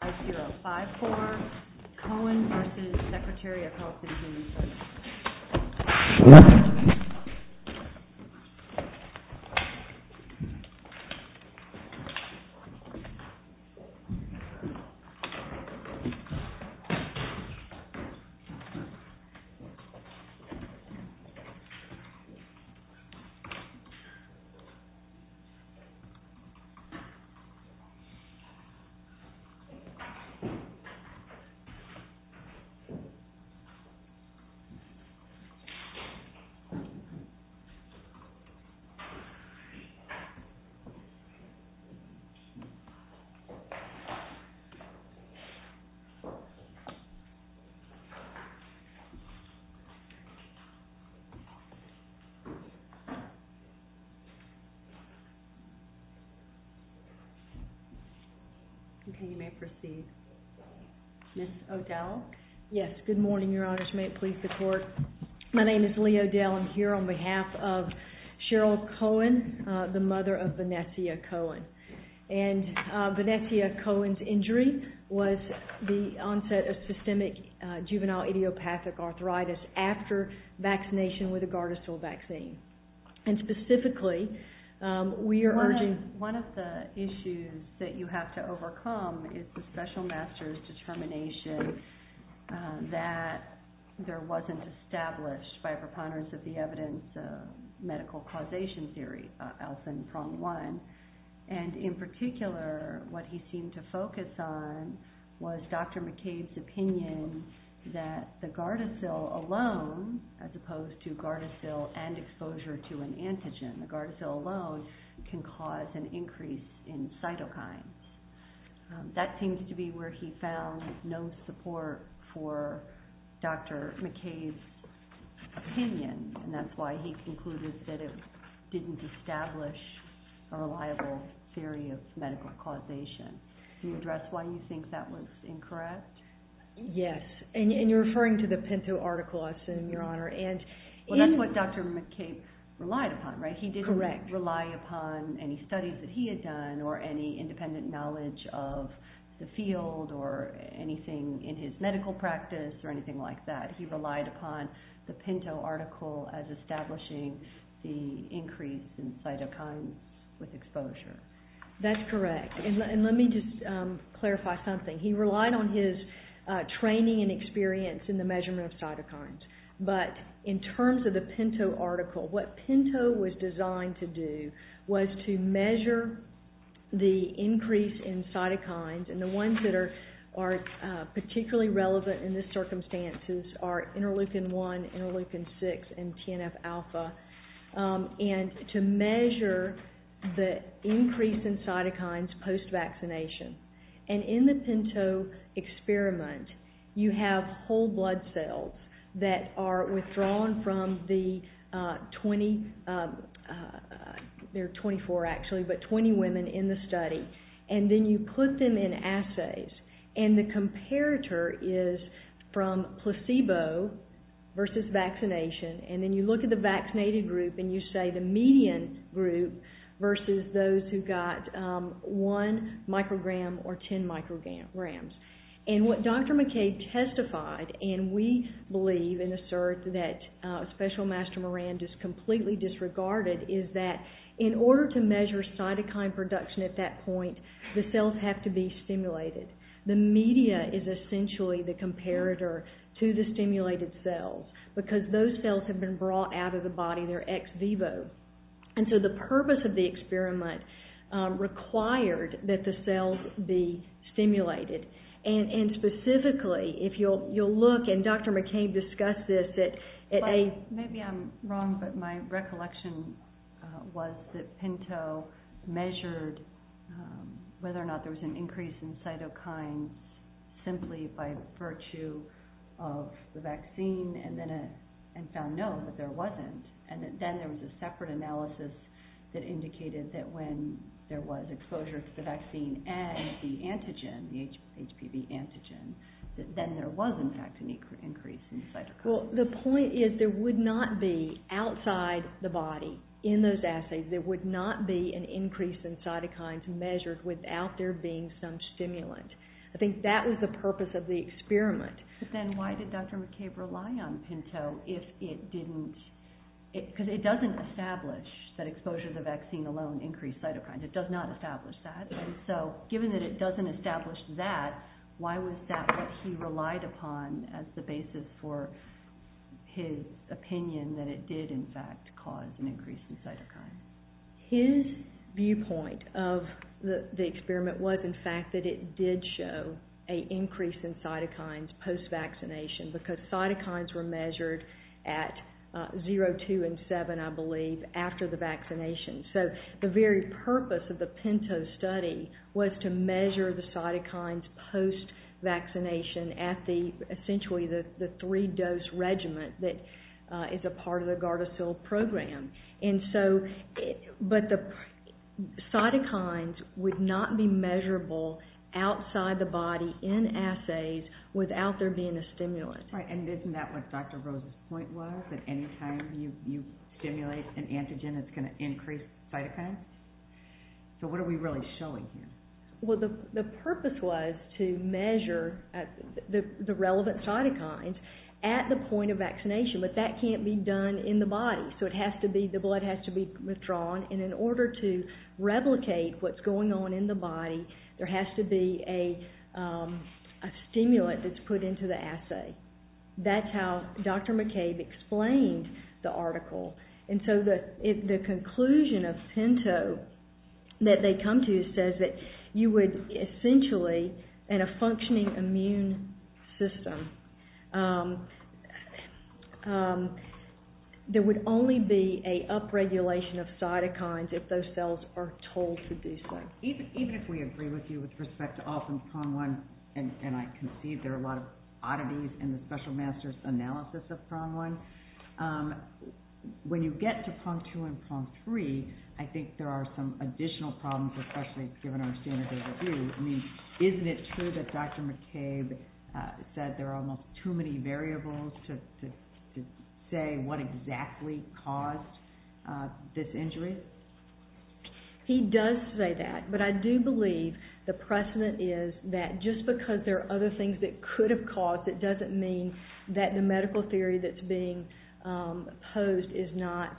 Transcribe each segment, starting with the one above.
5054, Koehn v. Secretary of Health and Human Services. Okay, you may proceed. Ms. O'Dell? Yes. Good morning, Your Honors. May it please the Court. My name is Lee O'Dell. I'm here on behalf of Cheryl Koehn, the mother of Vanessia Koehn. And Vanessa Koehn's injury was the onset of systemic juvenile idiopathic arthritis after vaccination with a Gardasil vaccine. And specifically, we are urging... One of the issues that you have to overcome is the specificity of the disease. And so, I think it's important for us to understand that there was a special master's determination that there wasn't established by preponderance of the evidence of medical causation theory, Alfen Prong One. And in particular, what he seemed to focus on was Dr. McCabe's opinion that the Gardasil alone, as opposed to Gardasil and exposure to an antigen, the Gardasil alone can cause an increase in cytokines. That seems to be where he found no support for Dr. McCabe's opinion. And that's why he concluded that it didn't establish a reliable theory of medical causation. Do you address why you think that was incorrect? Yes. And you're referring to the Pinto article, I assume, Your Honor. And... Well, that's what Dr. McCabe relied upon, right? Correct. He didn't rely upon any studies that he had done or any independent knowledge of the field or anything in his medical practice or anything like that. He relied upon the Pinto article as establishing the increase in cytokines with exposure. That's correct. And let me just clarify something. He relied on his training and experience in the measurement of cytokines. But in terms of the Pinto article, what Pinto was designed to do was to measure the increase in cytokines, and the ones that are particularly relevant in this circumstance are interleukin 1, interleukin 6, and TNF-alpha, and to measure the increase in cytokines post-vaccination. And in the Pinto experiment, you have whole blood cells that are withdrawn from the 20... There are 24, actually, but 20 women in the study. And then you put them in assays, and the comparator is from placebo versus vaccination. And then you look at the vaccinated group, and you say the median group versus those who got 1 microgram or 10 micrograms. And what Dr. McKay testified, and we believe and assert that Special Master Moran just completely disregarded, is that in order to measure cytokine production at that point, the cells have to be stimulated. The media is essentially the comparator to the stimulated cells because those cells have been brought out of the body. They're ex vivo. And so the purpose of the experiment required that the cells be stimulated. And specifically, if you'll look, and Dr. McKay discussed this at a... Maybe I'm wrong, but my recollection was that Pinto measured whether or not there was an increase in cytokines simply by virtue of the vaccine, and found no, but there wasn't. And then there was a separate analysis that indicated that when there was exposure to the vaccine and the antigen, the HPV antigen, that then there was, in fact, an increase in cytokines. Well, the point is there would not be, outside the body, in those assays, there would not be an increase in cytokines measured without there being some stimulant. But then why did Dr. McKay rely on Pinto if it didn't... Because it doesn't establish that exposure to the vaccine alone increased cytokines. It does not establish that. And so given that it doesn't establish that, why was that what he relied upon as the basis for his opinion that it did, in fact, cause an increase in cytokines? His viewpoint of the experiment was, in fact, that it did show an increase in cytokines post-vaccination because cytokines were measured at 0, 2, and 7, I believe, after the vaccination. So the very purpose of the Pinto study was to measure the cytokines post-vaccination at essentially the three-dose regimen that is a part of the Gardasil program. And so, but the cytokines would not be measurable outside the body in assays without there being a stimulant. Right, and isn't that what Dr. Rose's point was, that any time you stimulate an antigen, it's going to increase cytokines? So what are we really showing here? Well, the purpose was to measure the relevant cytokines at the point of vaccination, but that can't be done in the body. So it has to be, the blood has to be withdrawn, and in order to replicate what's going on in the body, there has to be a stimulant that's put into the assay. That's how Dr. McCabe explained the article. And so the conclusion of Pinto that they come to says that you would essentially, in a functioning immune system, there would only be a upregulation of cytokines if those cells are told to do so. Even if we agree with you with respect to all from PROM-1, and I can see there are a lot of oddities in the special master's analysis of PROM-1, when you get to PROM-2 and PROM-3, I think there are some additional problems, especially given our standard of review. I mean, isn't it true that Dr. McCabe said there are almost too many variables to say what exactly caused this injury? He does say that, but I do believe the precedent is that just because there are other things that could have caused it doesn't mean that the medical theory that's being posed is not...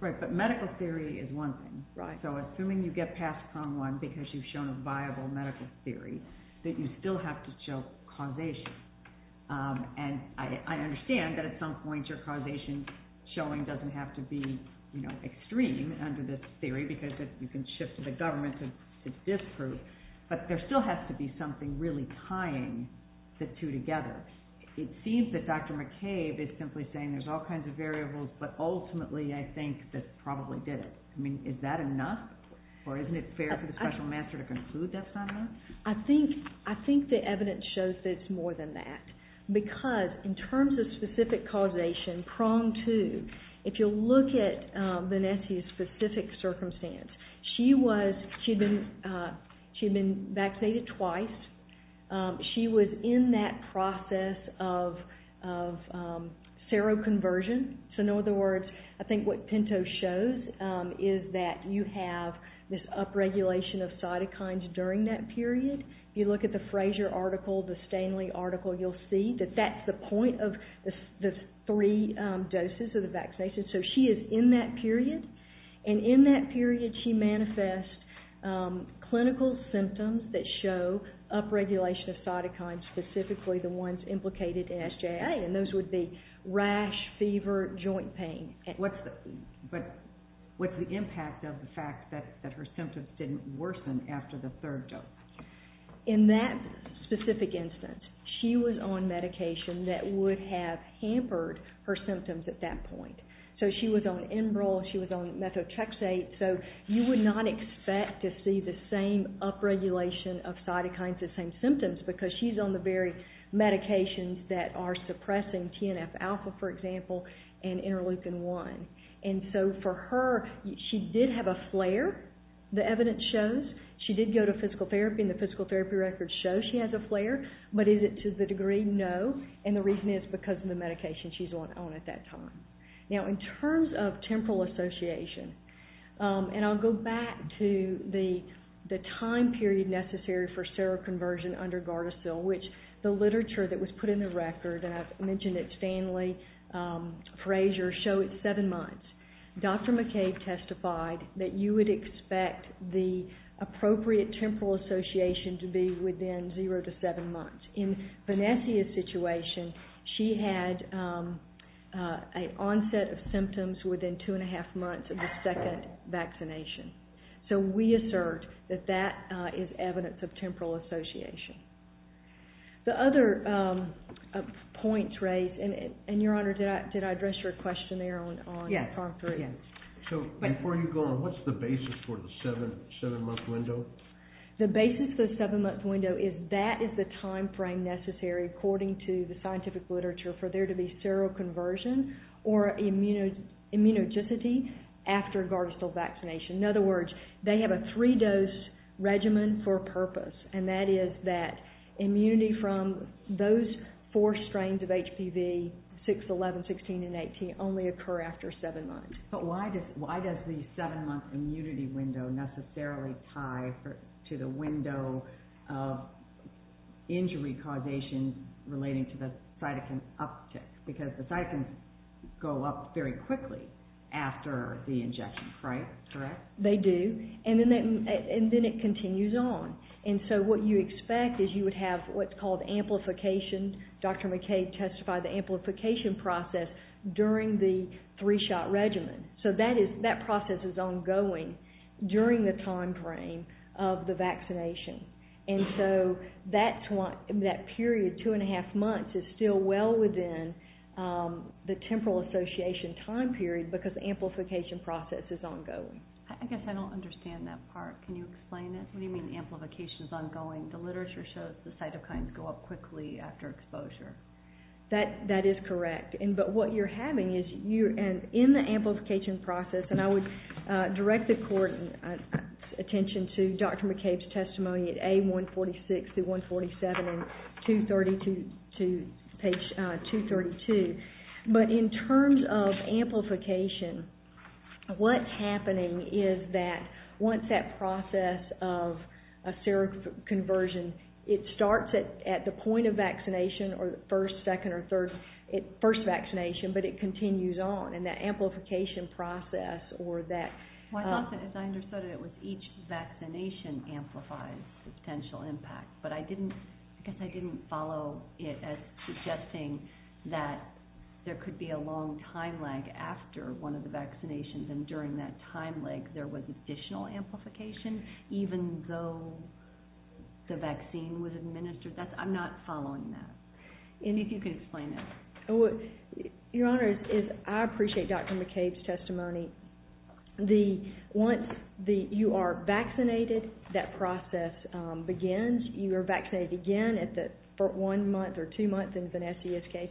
Right, but medical theory is one thing. So assuming you get past PROM-1 because you've shown a viable medical theory, that you still have to show causation. And I understand that at some point your causation showing doesn't have to be extreme under this theory because you can shift to the government and it's disproved, but there still has to be something really tying the two together. It seems that Dr. McCabe is simply saying there's all kinds of variables, but ultimately I think that probably did it. I mean, is that enough? Or isn't it fair for the special master to conclude that's not enough? I think the evidence shows that it's more than that because in terms of specific causation, PROM-2, if you look at Vanessa's specific circumstance, she had been vaccinated twice. She was in that process of seroconversion. So in other words, I think what Pinto shows is that you have this upregulation of cytokines during that period. If you look at the Fraser article, the Stanley article, you'll see that that's the point of the three doses of the vaccination. So she is in that period, and in that period she manifests clinical symptoms that show upregulation of cytokines, specifically the ones implicated in SJA. And those would be rash, fever, joint pain. But what's the impact of the fact that her symptoms didn't worsen after the third dose? In that specific instance, she was on medication that would have hampered her symptoms at that point. So she was on Enbrel, she was on methotrexate. So you would not expect to see the same upregulation of cytokines, the same symptoms, because she's on the very medications that are suppressing TNF-alpha, for example, and interleukin-1. And so for her, she did have a flare, the evidence shows. She did go to physical therapy, and the physical therapy records show she has a flare. But is it to the degree? No. And the reason is because of the medication she's on at that time. Now in terms of temporal association, And I'll go back to the time period necessary for seroconversion under Gardasil, which the literature that was put in the record, and I've mentioned it, Stanley Fraser, showed seven months. Dr. McCabe testified that you would expect the appropriate temporal association to be within zero to seven months. In Vanessa's situation, she had an onset of symptoms within two and a half months of the second vaccination. So we assert that that is evidence of temporal association. The other points raised, and Your Honor, did I address your question there on time period? So before you go on, what's the basis for the seven-month window? The basis for the seven-month window is that is the time frame necessary, according to the scientific literature, for there to be seroconversion or immunogenicity after Gardasil vaccination. In other words, they have a three-dose regimen for a purpose, and that is that immunity from those four strains of HPV, 6, 11, 16, and 18, only occur after seven months. But why does the seven-month immunity window necessarily tie to the window of injury causation relating to the cytokine uptick? Because the cytokines go up very quickly after the injection, correct? They do, and then it continues on. And so what you expect is you would have what's called amplification. As I mentioned, Dr. McKay testified the amplification process during the three-shot regimen. So that process is ongoing during the time frame of the vaccination. And so that period, two-and-a-half months, is still well within the temporal association time period because the amplification process is ongoing. I guess I don't understand that part. Can you explain it? What do you mean amplification is ongoing? The literature shows the cytokines go up quickly after exposure. That is correct. But what you're having is you're in the amplification process, and I would direct the court's attention to Dr. McKay's testimony at A146 through 147 and page 232. But in terms of amplification, what's happening is that once that process of seroconversion, it starts at the point of vaccination or the first, second, or third, first vaccination, but it continues on, and that amplification process or that... Well, I thought that, as I understood it, it was each vaccination amplifies the potential impact, but I guess I didn't follow it as suggesting that there could be a long time lag after one of the vaccinations, and during that time lag there was additional amplification even though the vaccine was administered. I'm not following that. And if you can explain it. Your Honor, I appreciate Dr. McKay's testimony. Once you are vaccinated, that process begins. You are vaccinated again for one month or two months, in Vanessa's case,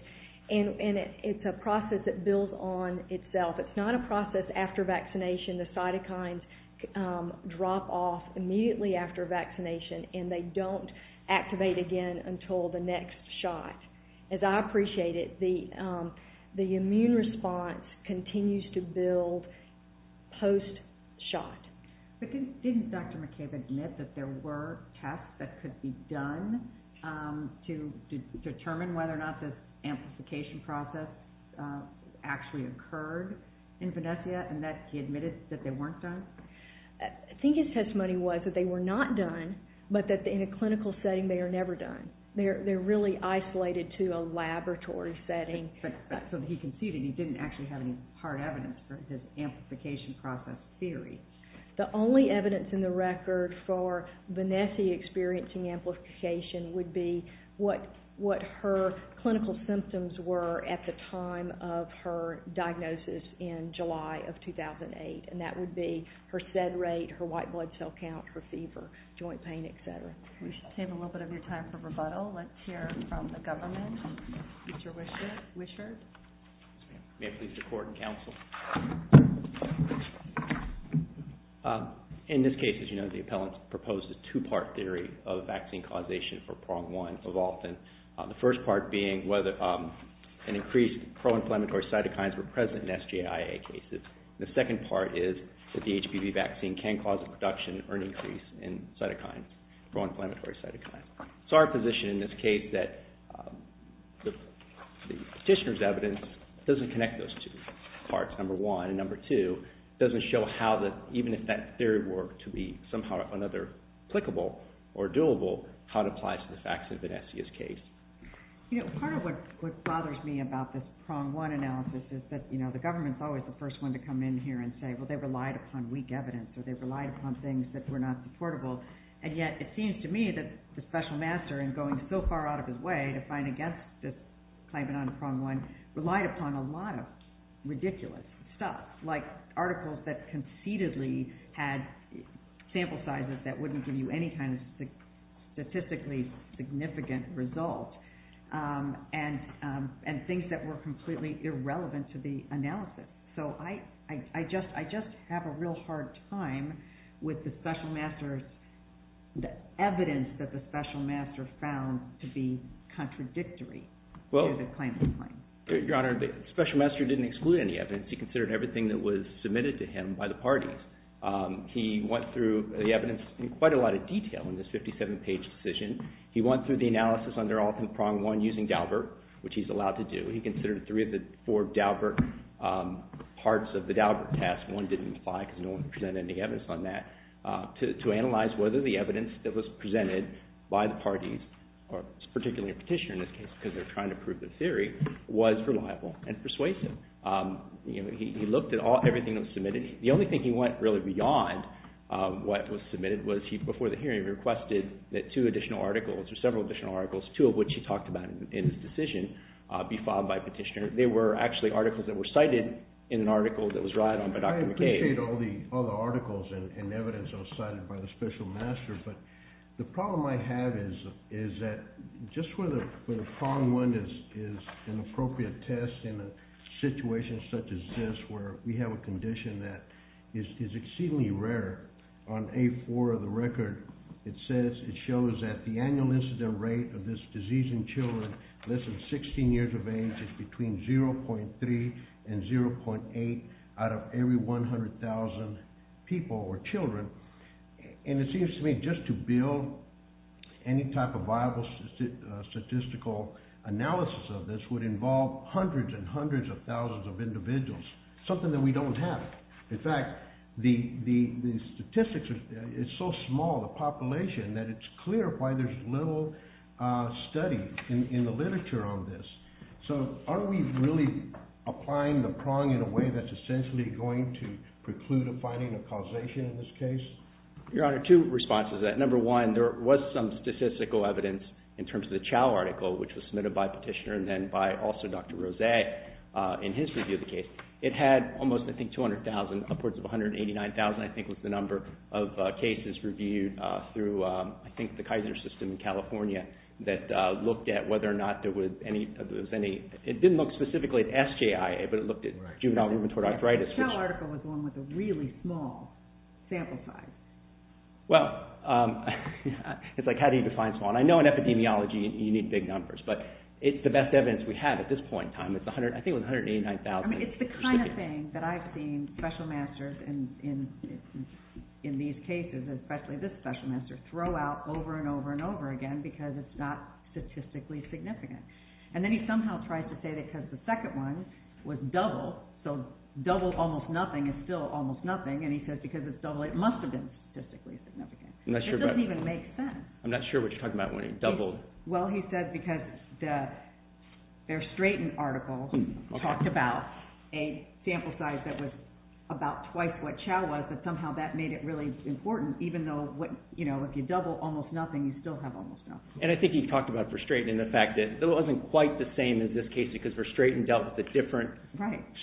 and it's a process that builds on itself. It's not a process after vaccination. The cytokines drop off immediately after vaccination, and they don't activate again until the next shot. As I appreciate it, the immune response continues to build post-shot. But didn't Dr. McKay admit that there were tests that could be done to determine whether or not this amplification process actually occurred in Vanessa, and that he admitted that they weren't done? I think his testimony was that they were not done, but that in a clinical setting they are never done. They're really isolated to a laboratory setting. So he conceded he didn't actually have any hard evidence for his amplification process theory. The only evidence in the record for Vanessa experiencing amplification would be what her clinical symptoms were at the time of her diagnosis in July of 2008, and that would be her SED rate, her white blood cell count, her fever, joint pain, et cetera. We should save a little bit of your time for rebuttal. Let's hear from the government. Mr. Wishart. May it please the Court and Counsel. In this case, as you know, the appellants proposed a two-part theory of vaccine causation for PRONG1 evolving, the first part being whether an increased pro-inflammatory cytokines were present in SJIA cases. The second part is that the HPV vaccine can cause a reduction or an increase in cytokines, pro-inflammatory cytokines. So our position in this case is that the petitioner's evidence doesn't connect those two parts, number one. And number two, it doesn't show how even if that theory were to be somehow or another applicable or doable, how it applies to the facts in Vanessa's case. You know, part of what bothers me about this PRONG1 analysis is that, you know, the government's always the first one to come in here and say, well, they relied upon weak evidence or they relied upon things that were not supportable. And yet it seems to me that the special master in going so far out of his way to fight against this claimant on PRONG1 relied upon a lot of ridiculous stuff, like articles that conceitedly had sample sizes that wouldn't give you any kind of statistically significant result, and things that were completely irrelevant to the analysis. So I just have a real hard time with the special master's – the evidence that the special master found to be contradictory to the claimant's claim. Your Honor, the special master didn't exclude any evidence. He considered everything that was submitted to him by the parties. He went through the evidence in quite a lot of detail in this 57-page decision. He went through the analysis under Alton PRONG1 using Daubert, which he's allowed to do. He considered three of the four Daubert parts of the Daubert test – one didn't apply because no one presented any evidence on that – to analyze whether the evidence that was presented by the parties, or particularly a petitioner in this case because they're trying to prove the theory, was reliable and persuasive. You know, he looked at everything that was submitted. The only thing he went really beyond what was submitted was he, before the hearing, requested that two additional articles or several additional articles, two of which he talked about in his decision, be filed by a petitioner. They were actually articles that were cited in an article that was relied on by Dr. McKay. I appreciate all the articles and evidence that was cited by the special master, but the problem I have is that just where the PRONG1 is an appropriate test in a situation such as this where we have a condition that is exceedingly rare, on A4 of the record it says it shows that the annual incident rate of this disease in children less than 16 years of age is between 0.3 and 0.8 out of every 100,000 people or children. And it seems to me just to build any type of viable statistical analysis of this would involve hundreds and hundreds of thousands of individuals, something that we don't have. In fact, the statistics are so small, the population, that it's clear why there's little study in the literature on this. So are we really applying the PRONG in a way that's essentially going to preclude a finding of causation in this case? Your Honor, two responses to that. Number one, there was some statistical evidence in terms of the CHOW article, which was submitted by Petitioner and then by also Dr. Rose in his review of the case. It had almost, I think, 200,000, upwards of 189,000, I think, was the number of cases reviewed through, I think, the Kaiser system in California that looked at whether or not there was any... It didn't look specifically at SJIA, but it looked at juvenile rheumatoid arthritis. The CHOW article was the one with a really small sample size. Well, it's like how do you define small? I know in epidemiology you need big numbers, but it's the best evidence we have at this point in time. I think it was 189,000. It's the kind of thing that I've seen special masters in these cases, especially this special master, throw out over and over and over again because it's not statistically significant. And then he somehow tries to say that because the second one was double, so double almost nothing is still almost nothing, and he says because it's double it must have been statistically significant. It doesn't even make sense. I'm not sure what you're talking about when he doubled. Well, he said because their STRAITEN article talked about a sample size that was about twice what CHOW was, but somehow that made it really important, even though if you double almost nothing, you still have almost nothing. And I think he talked about for STRAITEN and the fact that it wasn't quite the same as this case because for STRAITEN dealt with a different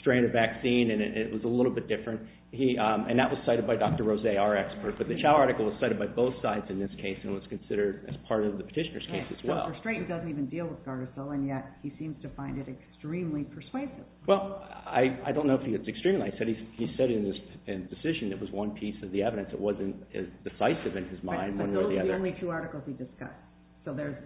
strain of vaccine, and it was a little bit different. And that was cited by Dr. Rose, our expert, but the CHOW article was cited by both sides in this case and was considered as part of the petitioner's case as well. Right, so for STRAITEN doesn't even deal with Gardasil, and yet he seems to find it extremely persuasive. Well, I don't know if it's extremely. He said in his decision it was one piece of the evidence. It wasn't as decisive in his mind one way or the other. Right, but those are the only two articles he discussed. So there's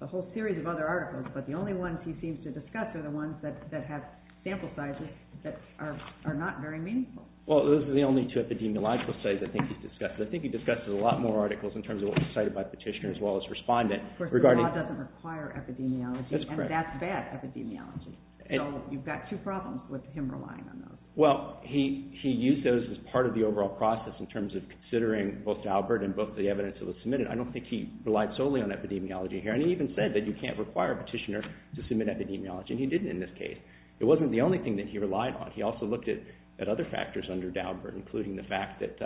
a whole series of other articles, but the only ones he seems to discuss are the ones that have sample sizes that are not very meaningful. Well, those are the only two epidemiological studies I think he's discussed. I think he discussed a lot more articles in terms of what was cited by petitioners as well as respondents regarding... Of course, the law doesn't require epidemiology, and that's bad epidemiology. So you've got two problems with him relying on those. Well, he used those as part of the overall process in terms of considering both Albert and both the evidence that was submitted. I don't think he relied solely on epidemiology here, and he even said that you can't require a petitioner to submit epidemiology, and he didn't in this case. It wasn't the only thing that he relied on. He also looked at other factors under Daubert, including the fact that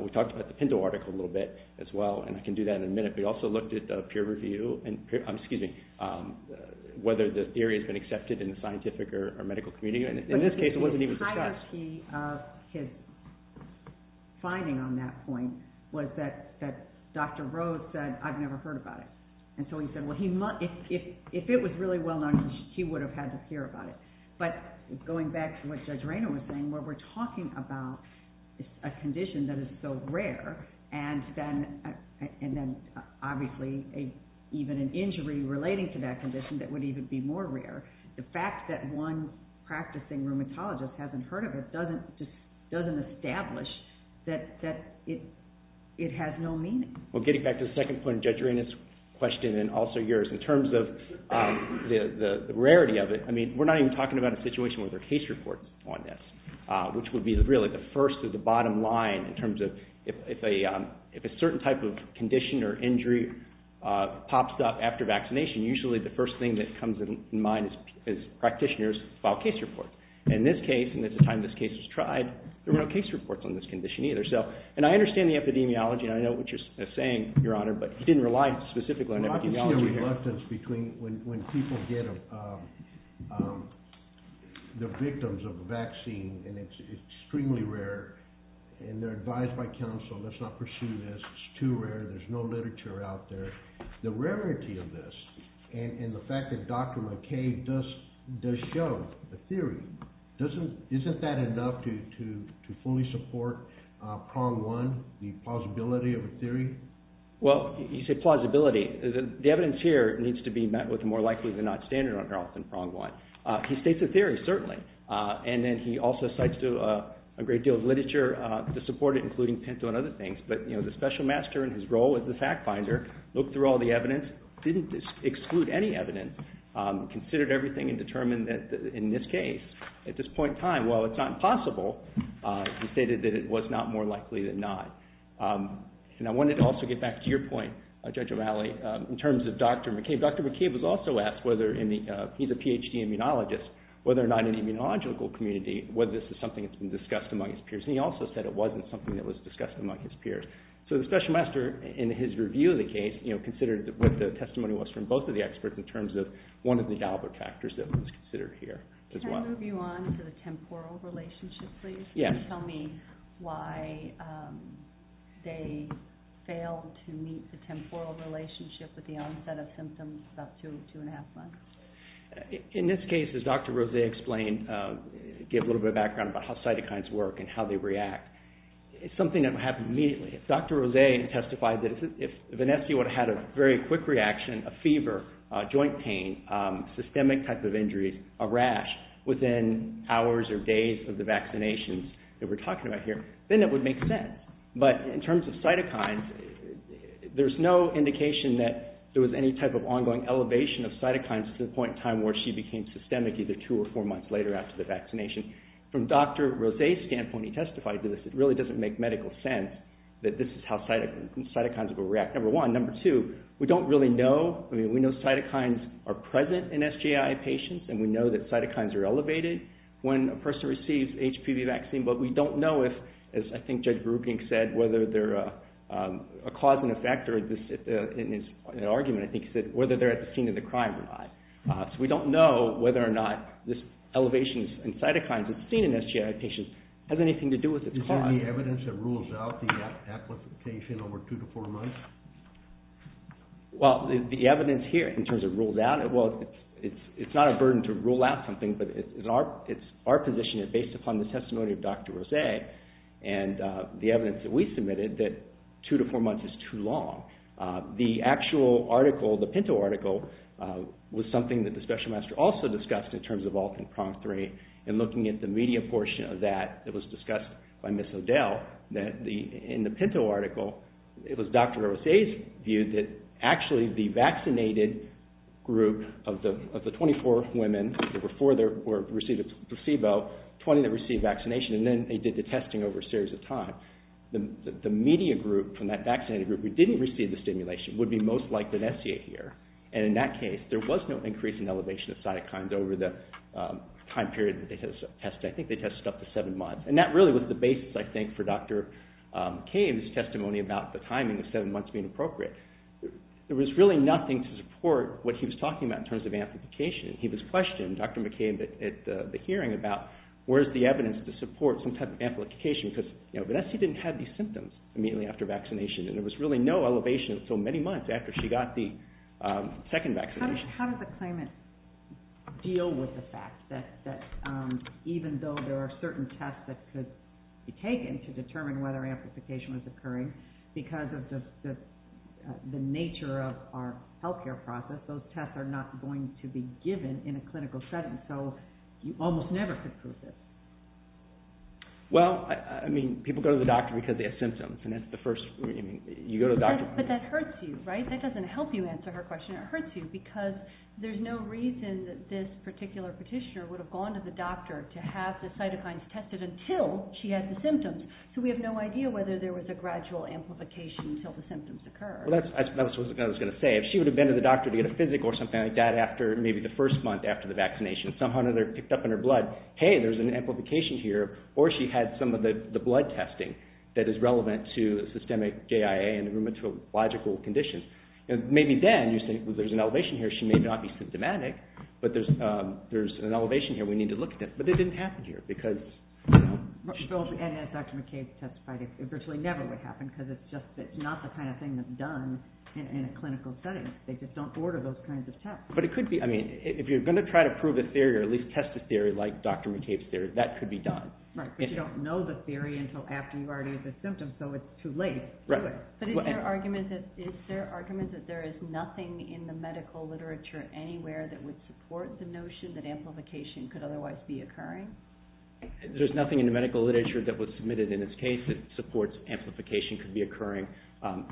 we talked about the Pinto article a little bit as well, and I can do that in a minute, but he also looked at peer review and whether the theory has been accepted in the scientific or medical community, and in this case it wasn't even discussed. But the entirety of his finding on that point was that Dr. Rhodes said, I've never heard about it. And so he said, well, if it was really well known, he would have had to hear about it. But going back to what Judge Raynor was saying, where we're talking about a condition that is so rare, and then obviously even an injury relating to that condition that would even be more rare, the fact that one practicing rheumatologist hasn't heard of it doesn't establish that it has no meaning. Well, getting back to the second point of Judge Raynor's question and also yours in terms of the rarity of it, we're not even talking about a situation where there are case reports on this, which would be really the first or the bottom line in terms of if a certain type of condition or injury pops up after vaccination, usually the first thing that comes to mind is practitioners file case reports. In this case, and at the time this case was tried, there were no case reports on this condition either. And I understand the epidemiology, and I know what you're saying, Your Honor, but you didn't rely specifically on epidemiology here. There's a reluctance between when people get the victims of a vaccine, and it's extremely rare, and they're advised by counsel, let's not pursue this, it's too rare, there's no literature out there. The rarity of this and the fact that Dr. McKay does show a theory, isn't that enough to fully support prong one, the plausibility of a theory? Well, you say plausibility. The evidence here needs to be met with a more likely than not standard on prong one. He states a theory, certainly. And then he also cites a great deal of literature to support it, including Pinto and other things. But the special master in his role as the fact finder looked through all the evidence, didn't exclude any evidence, considered everything and determined that in this case, at this point in time, while it's not impossible, he stated that it was not more likely than not. And I wanted to also get back to your point, Judge O'Malley, in terms of Dr. McKay. Dr. McKay was also asked, he's a PhD immunologist, whether or not in the immunological community, whether this is something that's been discussed among his peers. And he also said it wasn't something that was discussed among his peers. So the special master, in his review of the case, considered what the testimony was from both of the experts in terms of one of the Dalbert factors that was considered here as well. Can I move you on to the temporal relationship, please? Yes. Can you tell me why they failed to meet the temporal relationship with the onset of symptoms about two, two and a half months? In this case, as Dr. Rose explained, give a little bit of background about how cytokines work and how they react. It's something that would happen immediately. Dr. Rose testified that if Vanessa would have had a very quick reaction, a fever, joint pain, systemic type of injuries, a rash within hours or days of the vaccinations that we're talking about here, then it would make sense. But in terms of cytokines, there's no indication that there was any type of ongoing elevation of cytokines to the point in time where she became systemic either two or four months later after the vaccination. From Dr. Rose's standpoint, he testified to this, it really doesn't make medical sense that this is how cytokines will react. Number one. Number two, we don't really know. I mean, we know cytokines are present in SJI patients and we know that cytokines are elevated when a person receives HPV vaccine, but we don't know if, as I think Judge Beruking said, whether they're a cause and effect or, in his argument I think he said, whether they're at the scene of the crime or not. So we don't know whether or not this elevation in cytokines that's seen in SJI patients has anything to do with its cause. Is there any evidence that rules out the application over two to four months? Well, the evidence here in terms of rules out, well, it's not a burden to rule out something, but our position is based upon the testimony of Dr. Rose and the evidence that we submitted that two to four months is too long. The actual article, the Pinto article, was something that the Special Master also discussed in terms of Alt and PROM3 and looking at the media portion of that that was discussed by Ms. O'Dell, that in the Pinto article it was Dr. Rose's view that actually the vaccinated group of the 24 women who were four that received a placebo, 20 that received vaccination, and then they did the testing over a series of time. The media group from that vaccinated group who didn't receive the stimulation would be most likely an SCA here, and in that case there was no increase in elevation of cytokines over the time period that they tested. I think they tested up to seven months, and that really was the basis, I think, for Dr. McCabe's testimony about the timing of seven months being appropriate. There was really nothing to support what he was talking about in terms of amplification. He was questioned, Dr. McCabe, at the hearing about where is the evidence to support some type of amplification because Vanessa didn't have these symptoms immediately after vaccination, and there was really no elevation until many months after she got the second vaccination. How does the claimant deal with the fact that even though there are certain tests that could be taken to determine whether amplification was occurring, because of the nature of our health care process, those tests are not going to be given in a clinical setting, so you almost never could prove it? Well, I mean, people go to the doctor because they have symptoms, and that's the first, I mean, you go to the doctor. But that hurts you, right? That doesn't help you answer her question. It hurts you because there's no reason that this particular petitioner would have gone to the doctor to have the cytokines tested until she had the symptoms. So we have no idea whether there was a gradual amplification until the symptoms occurred. Well, that's what I was going to say. If she would have been to the doctor to get a physic or something like that after maybe the first month after the vaccination, somehow or another picked up in her blood, hey, there's an amplification here, or she had some of the blood testing that is relevant to systemic JIA and rheumatological conditions. Maybe then you think, well, there's an elevation here, and the vaccination may not be symptomatic, but there's an elevation here we need to look at. But it didn't happen here. And as Dr. McCabe testified, it virtually never would happen because it's not the kind of thing that's done in a clinical setting. They just don't order those kinds of tests. But it could be. I mean, if you're going to try to prove a theory or at least test a theory like Dr. McCabe's theory, that could be done. Right, but you don't know the theory until after you already have the symptoms, so it's too late to do it. But is there argument that there is nothing in the medical literature anywhere that would support the notion that amplification could otherwise be occurring? There's nothing in the medical literature that was submitted in this case that supports amplification could be occurring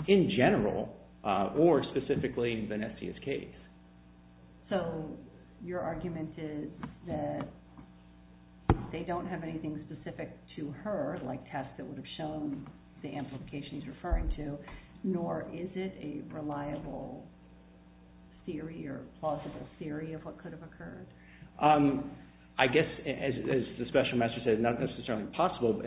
in general or specifically in Vanessa's case. So your argument is that they don't have anything specific to her, like tests that would have shown the amplification he's referring to, nor is it a reliable theory or plausible theory of what could have occurred? I guess, as the special master said, it's not necessarily possible, but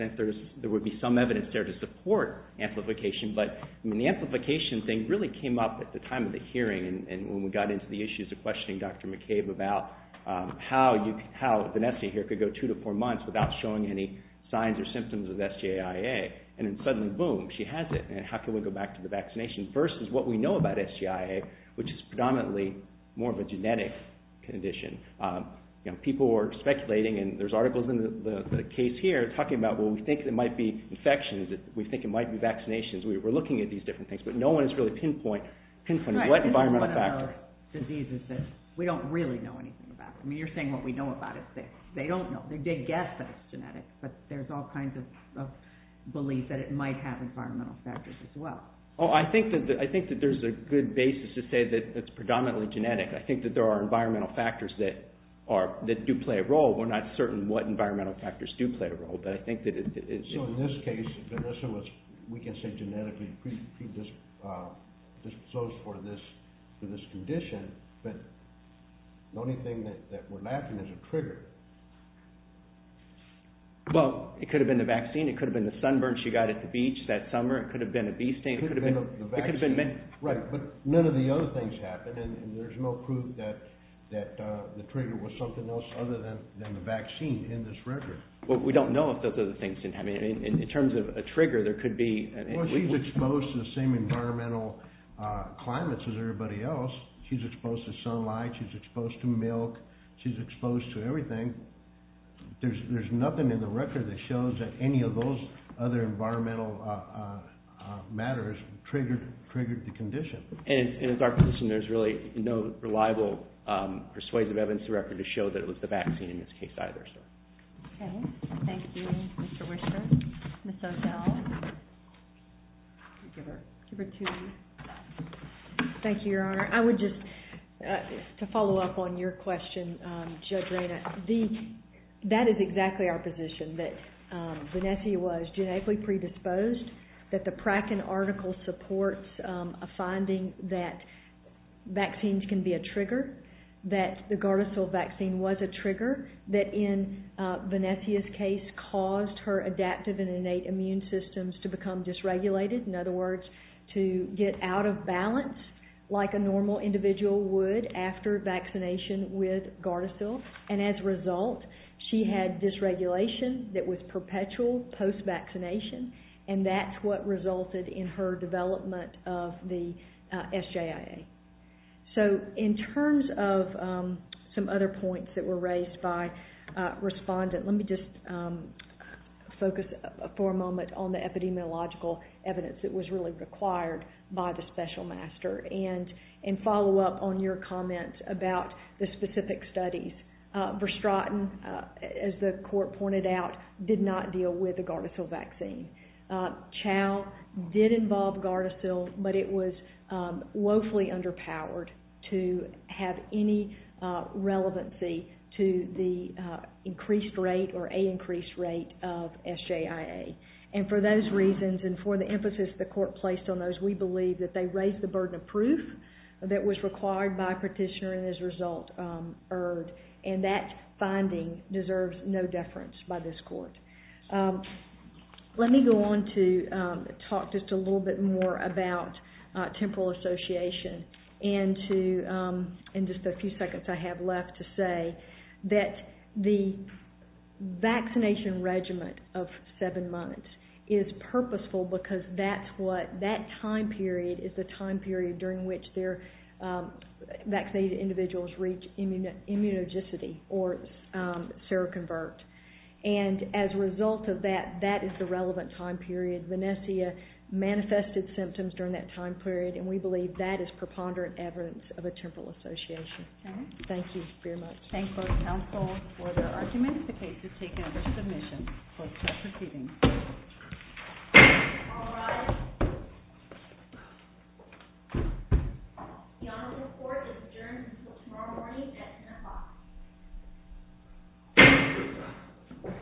there would be some evidence there to support amplification. But the amplification thing really came up at the time of the hearing and when we got into the issues of questioning Dr. McCabe about how Vanessa here could go two to four months without showing any signs or symptoms of SJIA, and then suddenly, boom, she has it. And how can we go back to the vaccination? First is what we know about SJIA, which is predominantly more of a genetic condition. People were speculating, and there's articles in the case here talking about, well, we think it might be infections, we think it might be vaccinations. We're looking at these different things, but no one has really pinpointed what environmental factor. Right, this is one of those diseases that we don't really know anything about. I mean, you're saying what we know about it. They don't know. They did guess that it's genetic, but there's all kinds of belief that it might have environmental factors as well. Oh, I think that there's a good basis to say that it's predominantly genetic. I think that there are environmental factors that do play a role. We're not certain what environmental factors do play a role, but I think that it is. So in this case, Vanessa was, we can say, genetically pre-disposed for this condition, but the only thing that we're lacking is a trigger. Well, it could have been the vaccine. It could have been the sunburn she got at the beach that summer. It could have been a bee sting. It could have been the vaccine. Right, but none of the other things happened, and there's no proof that the trigger was something else other than the vaccine in this record. Well, we don't know if those other things didn't happen. In terms of a trigger, there could be. Well, she's exposed to the same environmental climates as everybody else. She's exposed to sunlight. She's exposed to milk. She's exposed to everything. There's nothing in the record that shows that any of those other environmental matters triggered the condition. And in our position, there's really no reliable persuasive evidence to record to show that it was the vaccine in this case either, so. Okay. Thank you, Mr. Whisker. Ms. O'Dell. Give her two minutes. Thank you, Your Honor. I would just, to follow up on your question, Judge Rayna, that is exactly our position, that Vanessia was genetically predisposed, that the Pratt & Arnall article supports a finding that vaccines can be a trigger, that the Gardasil vaccine was a trigger, that in Vanessia's case caused her adaptive and innate immune systems to become dysregulated. In other words, to get out of balance like a normal individual would after vaccination with Gardasil. And as a result, she had dysregulation that was perpetual post-vaccination, and that's what resulted in her development of the SJIA. So in terms of some other points that were raised by respondent, let me just focus for a moment on the epidemiological evidence that was really required by the special master and follow up on your comment about the specific studies. Verstraten, as the court pointed out, did not deal with the Gardasil vaccine. Chow did involve Gardasil, but it was woefully underpowered to have any relevancy to the increased rate or a increased rate of SJIA. And for those reasons and for the emphasis the court placed on those, we believe that they raised the burden of proof that was required by Petitioner and as a result erred. And that finding deserves no deference by this court. Let me go on to talk just a little bit more about temporal association and just a few seconds I have left to say that the vaccination regimen of seven months is purposeful because that time period is the time period during which their vaccinated individuals reach immunogenicity or seroconvert. And as a result of that, that is the relevant time period. Vanessia manifested symptoms during that time period, and we believe that is preponderant evidence of a temporal association. Thank you very much. Thank you both counsel for their arguments. The case is taken under submission. Let's start proceeding. All rise. The honorable court is adjourned until tomorrow morning at 10 o'clock. Thank you.